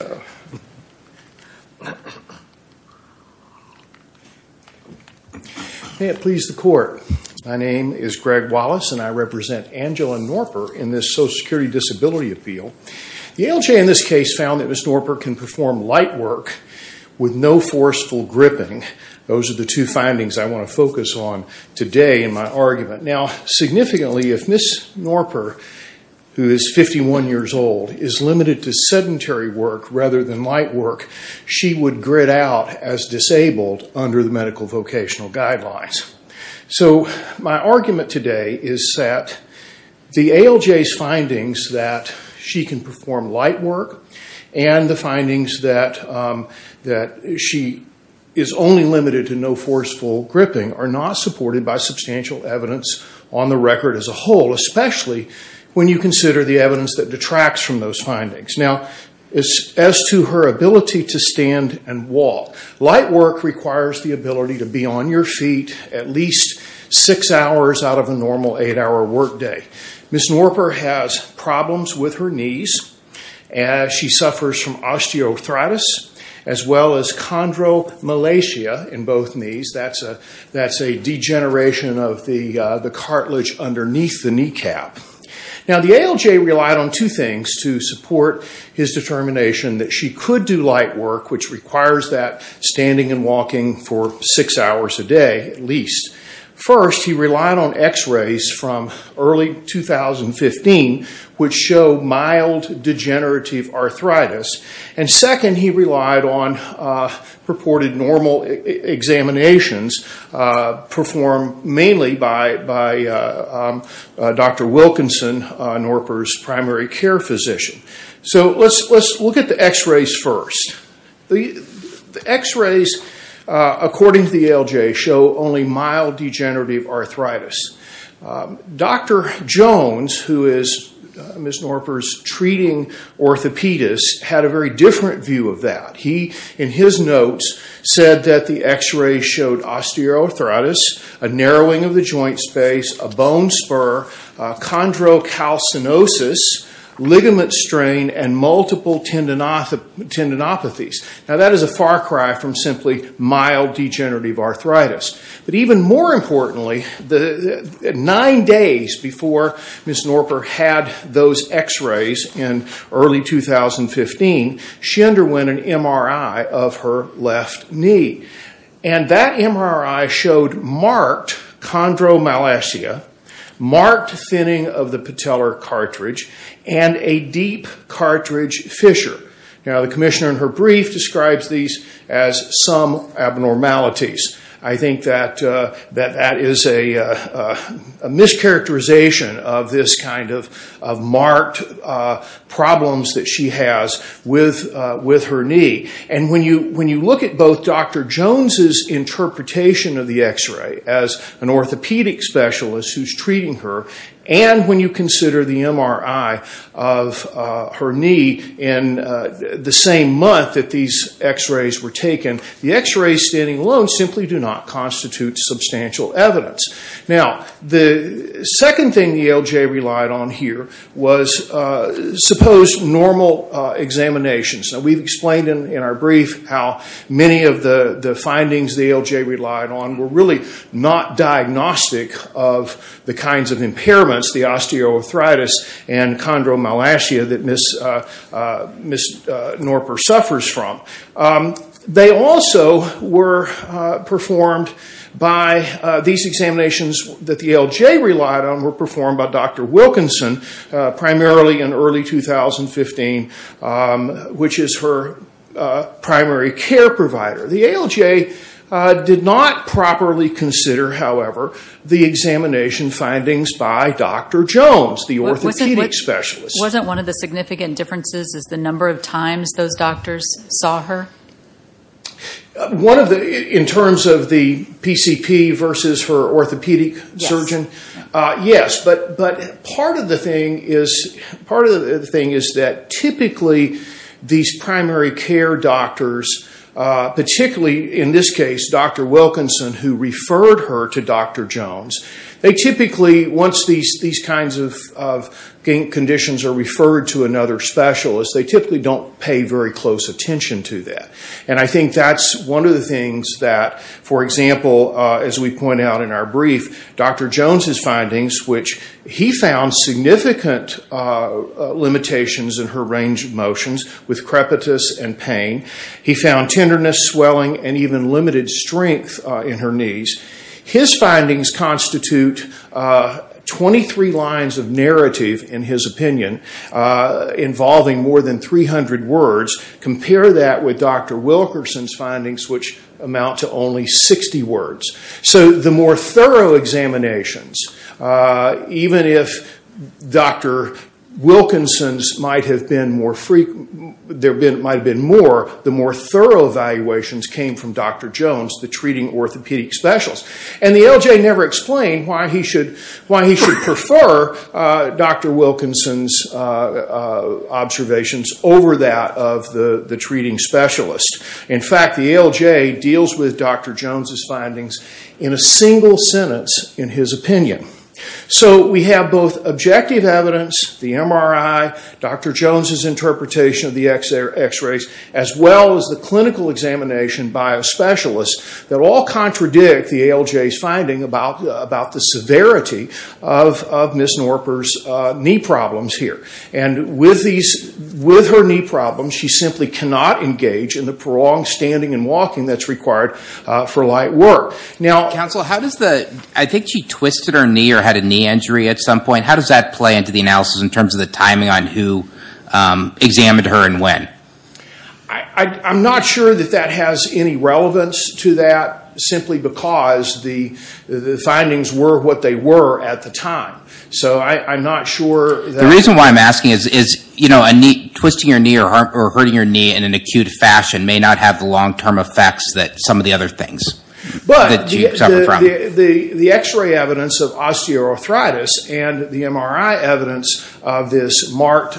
May it please the Court, my name is Greg Wallace and I represent Angela Noerper in this Social Security Disability Appeal. The ALJ in this case found that Ms. Noerper can perform light work with no forceful gripping. Those are the two findings I want to focus on today in my argument. Now significantly if Ms. Noerper, who is 51 years old, is limited to sedentary work rather than light work, she would grid out as disabled under the medical vocational guidelines. So my argument today is that the ALJ's findings that she can perform light work and the findings that she is only limited to no forceful gripping are not supported by substantial evidence on the record as a whole, especially when you consider the evidence that detracts from those findings. Now as to her ability to stand and walk, light work requires the ability to be on your feet at least six hours out of a normal eight hour work day. Ms. Noerper has problems with her knees. She suffers from osteoarthritis as well as chondromalacia in both knees. That's a degeneration of the cartilage underneath the kneecap. Now the ALJ relied on two things to support his determination that she could do light work, which requires that standing and walking for six hours a day at least. First, he relied on x-rays from early 2015, which show mild degenerative arthritis. And second, he relied on purported normal examinations performed mainly by Dr. Wilkinson, Noerper's primary care physician. So let's look at the x-rays first. The x-rays, according to the ALJ, show only mild degenerative arthritis. Dr. Jones, who is Ms. Noerper's treating orthopedist, had a very different view of that. He, in his notes, said that the x-rays showed osteoarthritis, a narrowing of the joint space, a bone spur, chondrocalcinosis, ligament strain, and multiple tendinopathies. Now that is a far cry from simply mild degenerative arthritis. But even more importantly, nine days before Ms. Noerper had those x-rays in early 2015, she underwent an MRI of her left knee. And that MRI showed marked chondromalacia, marked thinning of the patellar cartridge, and a deep cartridge fissure. Now the commissioner in her brief describes these as some abnormalities. I think that that is a mischaracterization of this kind of marked problems that she has with her knee. And when you look at both Dr. Jones's interpretation of the x-ray as an orthopedic specialist who is treating her, and when you consider the MRI of her knee in the same month that these x-rays were taken, the x-rays standing alone simply do not constitute substantial evidence. Now the second thing the ALJ relied on here was, suppose, normal examinations. Now we've explained in our brief how many of the findings the ALJ relied on were really not diagnostic of the kinds of impairments, the osteoarthritis and chondromalacia that Ms. Noerper suffers from. They also were performed by, these examinations that the ALJ relied on were performed by Dr. Jones, which is her primary care provider. The ALJ did not properly consider, however, the examination findings by Dr. Jones, the orthopedic specialist. Wasn't one of the significant differences the number of times those doctors saw her? In terms of the PCP versus her orthopedic surgeon, yes. But part of the thing is that typically these primary care doctors, particularly in this case Dr. Wilkinson, who referred her to Dr. Jones, they typically, once these kinds of conditions are referred to another specialist, they typically don't pay very close attention to that. And I think that's one of the things that, for example, as we point out in our brief, Dr. Jones' findings, which he found significant limitations in her range of motions with crepitus and pain. He found tenderness, swelling, and even limited strength in her knees. His findings constitute 23 lines of narrative, in his opinion, involving more than 300 words. Compare that with Dr. Wilkinson's findings, which amount to only 60 words. So the more thorough examinations, even if Dr. Wilkinson's might have been more frequent, there might have been more, the more thorough evaluations came from Dr. Jones, the treating orthopedic specialist. And the LJ never explained why he should prefer Dr. Wilkinson's observations over that of the treating specialist. In fact, the ALJ deals with Dr. Jones' findings in a single sentence in his opinion. So we have both objective evidence, the MRI, Dr. Jones' interpretation of the x-rays, as well as the clinical examination by a specialist that all contradict the ALJ's finding about the severity of Ms. Norper's knee problems here. And with her knee problems, she simply cannot engage in the prolonged standing and walking that's required for light work. I think she twisted her knee or had a knee injury at some point. How does that play into the analysis in terms of the timing on who examined her and when? I'm not sure that that has any relevance to that simply because the findings were what they were at the time. So I'm not sure. The reason why I'm asking is twisting your knee or hurting your knee in an acute fashion may not have the long-term effects that some of the other things that you suffer from. But the x-ray evidence of osteoarthritis and the MRI evidence of this marked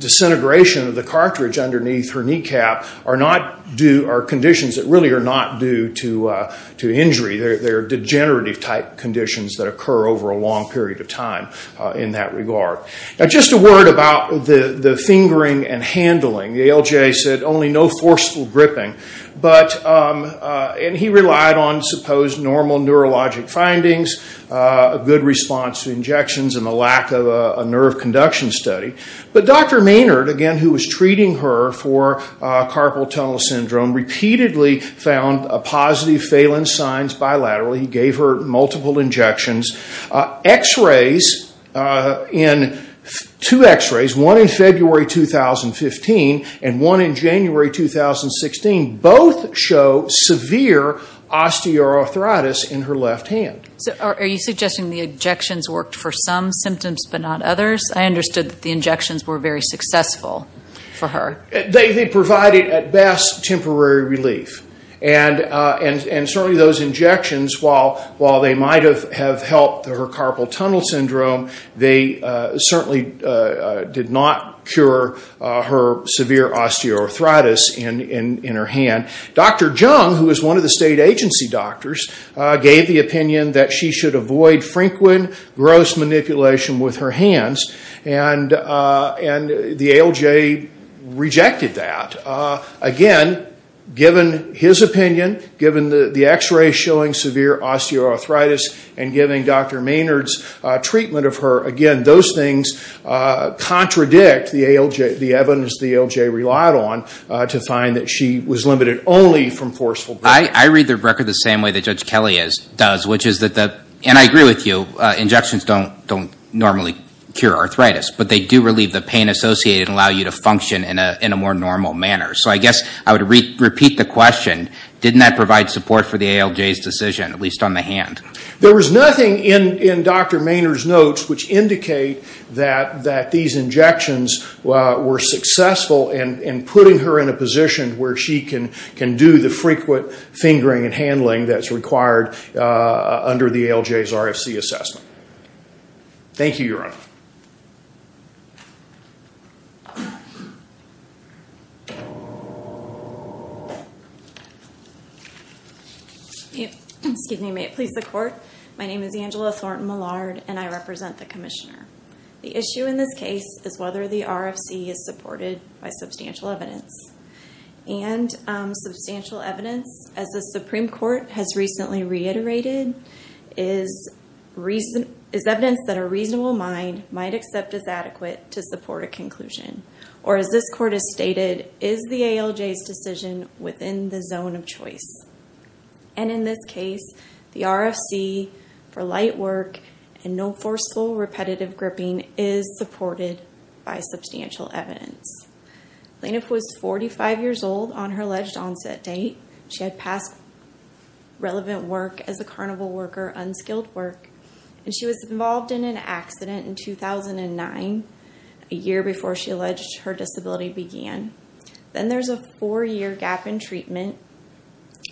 disintegration of the cartridge underneath her kneecap are conditions that really are not due to injury. They're degenerative-type conditions that occur over a long period of time in that regard. Just a word about the fingering and handling. The ALJ said only no forceful gripping. And he relied on supposed normal neurologic findings, a good response to injections, and a lack of a nerve conduction study. But Dr. Maynard, again, who was treating her for carpal tunnel syndrome, repeatedly found a positive Phalen signs bilaterally. He gave her multiple injections. X-rays, two x-rays, one in February 2015 and one in January 2016, both show severe osteoarthritis in her left hand. So are you suggesting the injections worked for some symptoms but not others? I understood that the injections were very successful for her. They provided, at best, temporary relief. And certainly those injections, while they might have helped her carpal tunnel syndrome, they certainly did not cure her severe osteoarthritis in her hand. Dr. Jung, who was one of the state agency doctors, gave the opinion that she should avoid frequent, gross manipulation with her hands. And the ALJ rejected that. Again, given his opinion, given the x-ray showing severe osteoarthritis, and giving Dr. Maynard's treatment of her, again, those things contradict the evidence the ALJ relied on to find that she was limited only from forceful grip. I read the record the same way that Judge Kelly does, which is that, and I agree with you, injections don't normally cure arthritis, but they do relieve the pain associated and function in a more normal manner. So I guess I would repeat the question, didn't that provide support for the ALJ's decision, at least on the hand? There was nothing in Dr. Maynard's notes which indicate that these injections were successful in putting her in a position where she can do the frequent fingering and handling that's required under the ALJ's RFC assessment. Thank you, Your Honor. Thank you. Excuse me. May it please the Court. My name is Angela Thornton-Millard, and I represent the Commissioner. The issue in this case is whether the RFC is supported by substantial evidence. And substantial evidence, as the Supreme Court has recently reiterated, is evidence that a reasonable mind might accept as adequate to support a conclusion, or as this Court has stated, is the ALJ's decision within the zone of choice. And in this case, the RFC for light work and no forceful, repetitive gripping is supported by substantial evidence. Plaintiff was 45 years old on her alleged onset date. She had passed relevant work as a carnival worker, unskilled work, and she was involved in an accident in 2009, a year before she alleged her disability began. Then there's a four-year gap in treatment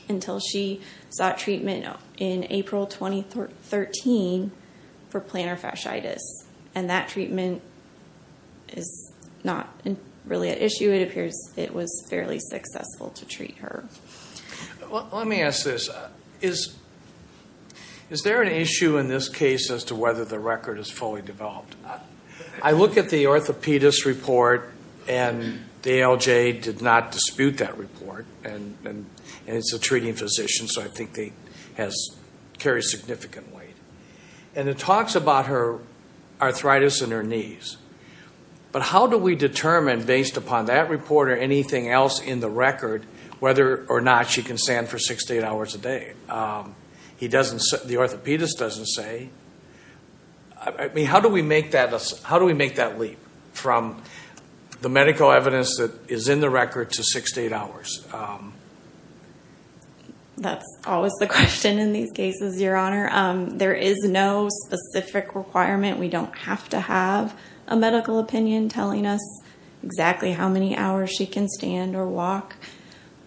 until she sought treatment in April 2013 for plantar fasciitis. And that treatment is not really an issue. It appears it was fairly successful to treat her. Well, let me ask this. Is there an issue in this case as to whether the record is fully developed? I look at the orthopedist report, and the ALJ did not dispute that report, and it's a treating physician, so I think they carry significant weight. But how do we determine, based upon that report or anything else in the record, whether or not she can stand for six to eight hours a day? The orthopedist doesn't say. How do we make that leap from the medical evidence that is in the record to six to eight hours? That's always the question in these cases, Your Honor. There is no specific requirement. We don't have to have a medical opinion telling us exactly how many hours she can stand or walk.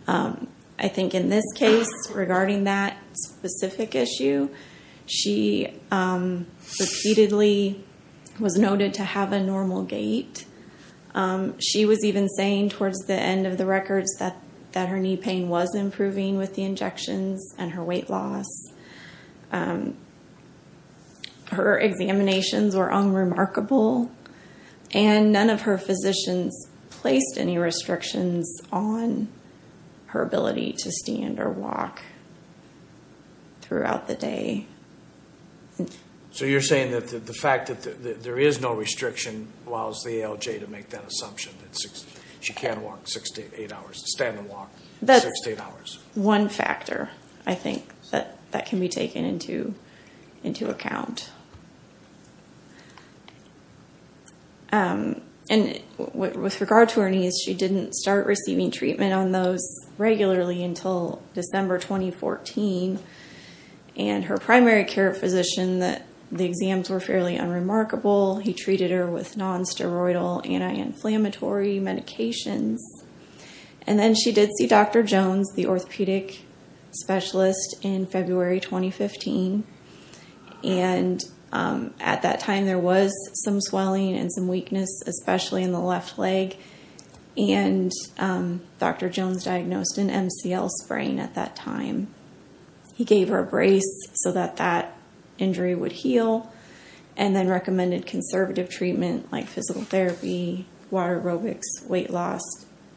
I think in this case, regarding that specific issue, she repeatedly was noted to have a normal gait. She was even saying towards the end of the records that her knee pain was improving with the injections and her weight loss. Her examinations were unremarkable, and none of her physicians placed any restrictions on her ability to stand or walk throughout the day. So you're saying that the fact that there is no restriction allows the ALJ to make that assumption that she can walk six to eight hours, stand and walk six to eight hours? That's one factor, I think, that has to be considered. That can be taken into account. With regard to her knees, she didn't start receiving treatment on those regularly until December 2014. Her primary care physician, the exams were fairly unremarkable. He treated her with non-steroidal anti-inflammatory medications. And then she did see Dr. Jones, the orthopedic specialist, in February 2015. And at that time, there was some swelling and some weakness, especially in the left leg. And Dr. Jones diagnosed an MCL sprain at that time. He gave her a brace so that that injury would heal and then recommended conservative treatment like physical therapy, water aerobics, weight loss,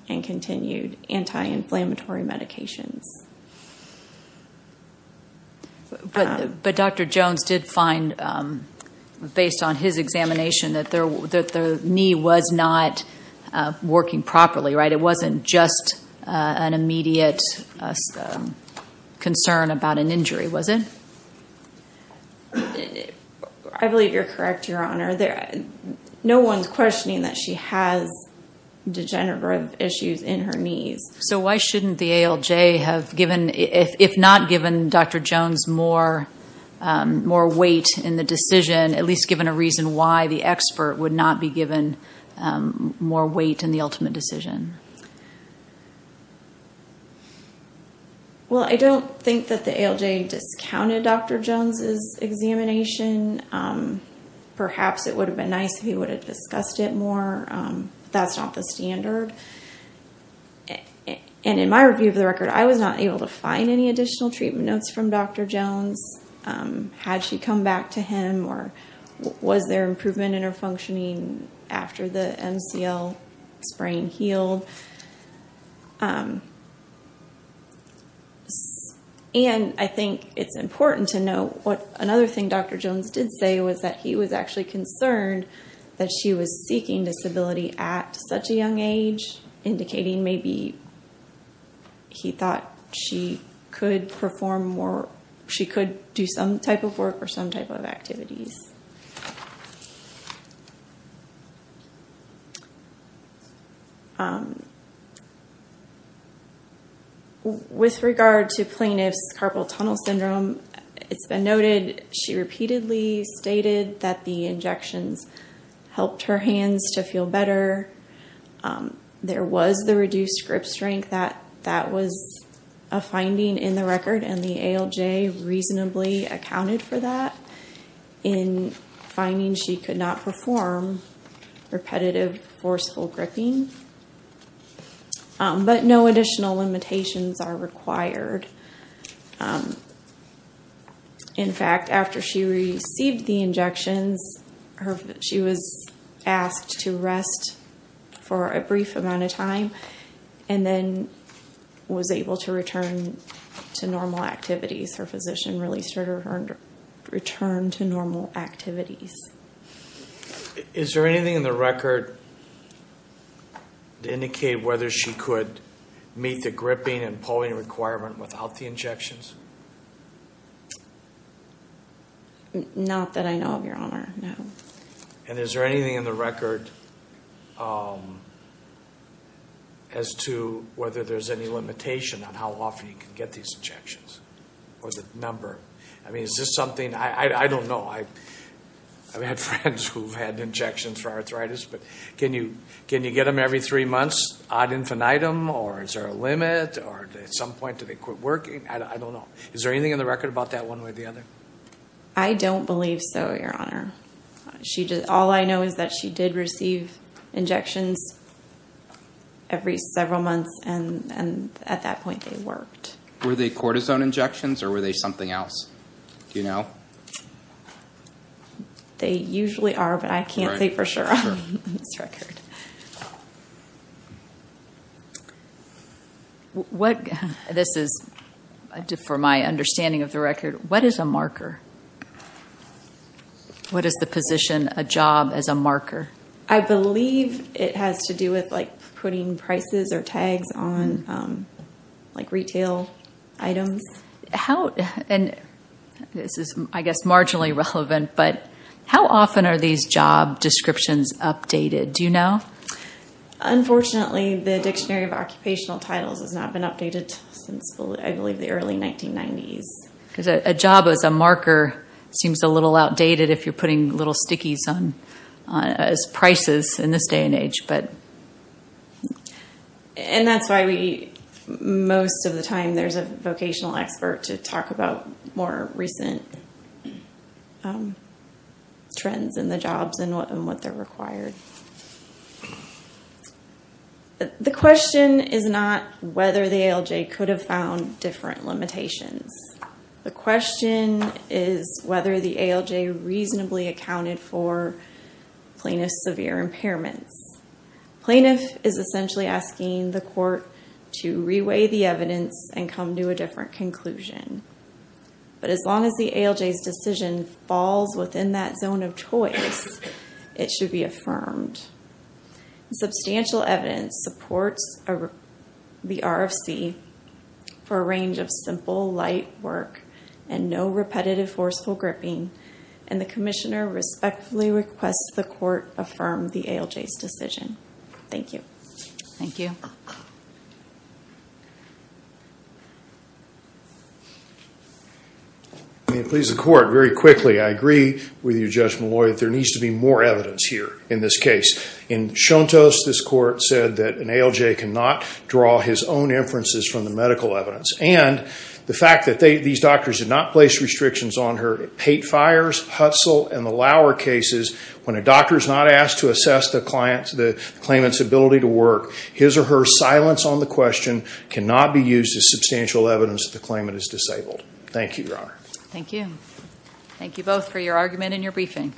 and continued anti-inflammatory medications. But Dr. Jones did find, based on his examination, that the knee was not working properly, right? It wasn't just an immediate concern about an injury, was it? I believe you're correct, Your Honor. No one's questioning that she has degenerative issues in her knees. So why shouldn't the ALJ have given, if not given, Dr. Jones more weight in the decision, at least given a reason why the expert would not be given more weight in the ultimate decision? Well, I don't think that the ALJ discounted Dr. Jones's examination. Perhaps it would have been nice if he would have discussed it more, but that's not the standard. And in my review of the record, I was not able to find any additional treatment notes from Dr. Jones had she come back to him or was there improvement in her functioning after the MCL sprain healed. So, and I think it's important to note what another thing Dr. Jones did say was that he was actually concerned that she was seeking disability at such a young age, indicating maybe he thought she could perform more, she could do some type of work or some type of activities. With regard to plaintiff's carpal tunnel syndrome, it's been noted, she repeatedly stated that the injections helped her hands to feel better. There was the reduced grip strength that that was a finding in the record and the ALJ reasonably accounted for that in finding she could not perform repetitive, forceful gripping. But no additional limitations are required. In fact, after she received the injections, she was asked to rest for a brief amount of time and then was able to return to normal activities. Her physician released her to return to normal activities. Is there anything in the record to indicate whether she could meet the gripping and pulling requirement without the injections? Not that I know of, your honor, no. And is there anything in the record as to whether there's any limitation on how often you can get these injections or the number? I mean, is this something, I don't know. I've had friends who've had injections for arthritis, but can you get them every three months ad infinitum or is there a limit or at some point do they quit working? I don't know. Is there anything in the record about that one way or the other? I don't believe so, your honor. All I know is that she did receive injections every several months and at that point they worked. Were they cortisone injections or were they something else? Do you know? They usually are, but I can't say for sure on this record. This is for my understanding of the record. What is a marker? What is the position, a job as a marker? I believe it has to do with putting prices or tags on retail items. And this is, I guess, marginally relevant, but how often are these job descriptions updated? Do you know? Unfortunately, the Dictionary of Occupational Titles has not been updated since, I believe, the early 1990s. Because a job as a marker seems a little outdated if you're putting little stickies as prices in this day and age. And that's why most of the time there's a vocational expert to talk about more recent trends in the jobs and what they're required. The question is not whether the ALJ could have found different limitations. The question is whether the ALJ reasonably accounted for plaintiff's severe impairments. Plaintiff is essentially asking the court to reweigh the evidence and come to a different conclusion. But as long as the ALJ's decision falls within that zone of choice, it should be affirmed. Substantial evidence supports the RFC for a range of simple, light work and no repetitive, forceful gripping, and the commissioner respectfully requests the court affirm the ALJ's Thank you. Thank you. May it please the court, very quickly, I agree with you, Judge Malloy, that there needs to be more evidence here in this case. In Shontos, this court said that an ALJ cannot draw his own inferences from the medical evidence. And the fact that these doctors did not place restrictions on her hate fires, Hutzel, and the Lauer cases, when a doctor is not asked to assess the claimant's ability to work, his or her silence on the question cannot be used as substantial evidence that the claimant is disabled. Thank you, Your Honor. Thank you. Thank you both for your argument and your briefing.